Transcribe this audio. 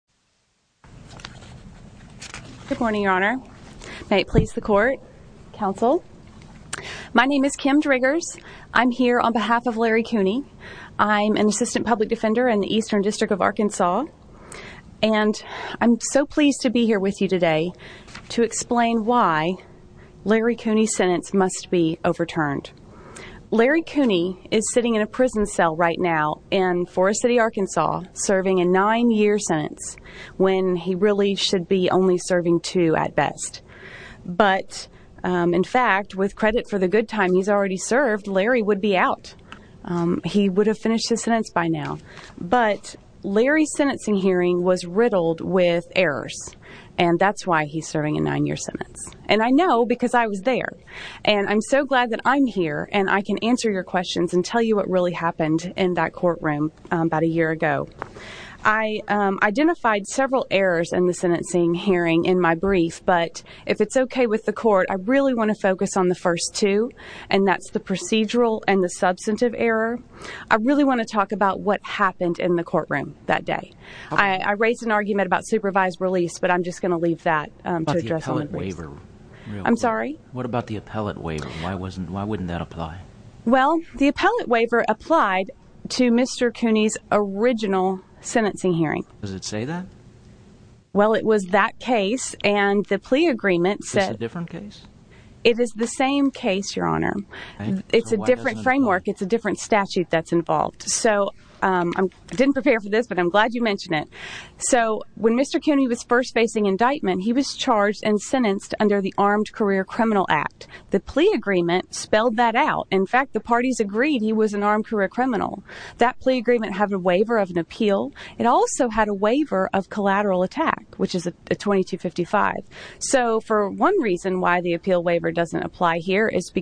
Good morning, your honor. May it please the court, counsel. My name is Kim Driggers. I'm here on behalf of Larry Cooney. I'm an assistant public defender in the Eastern District of Arkansas and I'm so pleased to be here with you today to explain why Larry Cooney's sentence must be overturned. Larry Cooney is sitting in a prison cell right now in Forest City, Arkansas serving a nine-year sentence when he really should be only serving two at best. But in fact, with credit for the good time he's already served, Larry would be out. He would have finished his sentence by now. But Larry's sentencing hearing was riddled with errors and that's why he's serving a nine-year sentence. And I know because I was there. And I'm so glad that I'm here and I can answer your questions and tell you what really happened in that courtroom about a year ago. I identified several errors in the sentencing hearing in my brief, but if it's okay with the court, I really want to focus on the first two and that's the procedural and the substantive error. I really want to talk about what happened in the courtroom that day. I raised an argument about supervised release, but I'm just going to leave that to address all the briefs. What about the appellate waiver? I'm sorry? What about the appellate waiver? Why wouldn't that apply? Well, the appellate waiver applied to Mr. Cooney's original sentencing hearing. Does it say that? Well, it was that case and the plea agreement said... Is this a different case? It is the same case, Your Honor. It's a different framework. It's a different statute that's involved. So I didn't prepare for this, but I'm glad you mentioned it. So when Mr. Cooney was first facing indictment, he was charged and sentenced under the Armed Career Criminal Act. The plea agreement spelled that out. In fact, the parties agreed he was an armed career criminal. That plea agreement had a waiver of an appeal. It also had a waiver of collateral attack, which is a 2255. So for one reason why the appeal waiver doesn't apply here is because...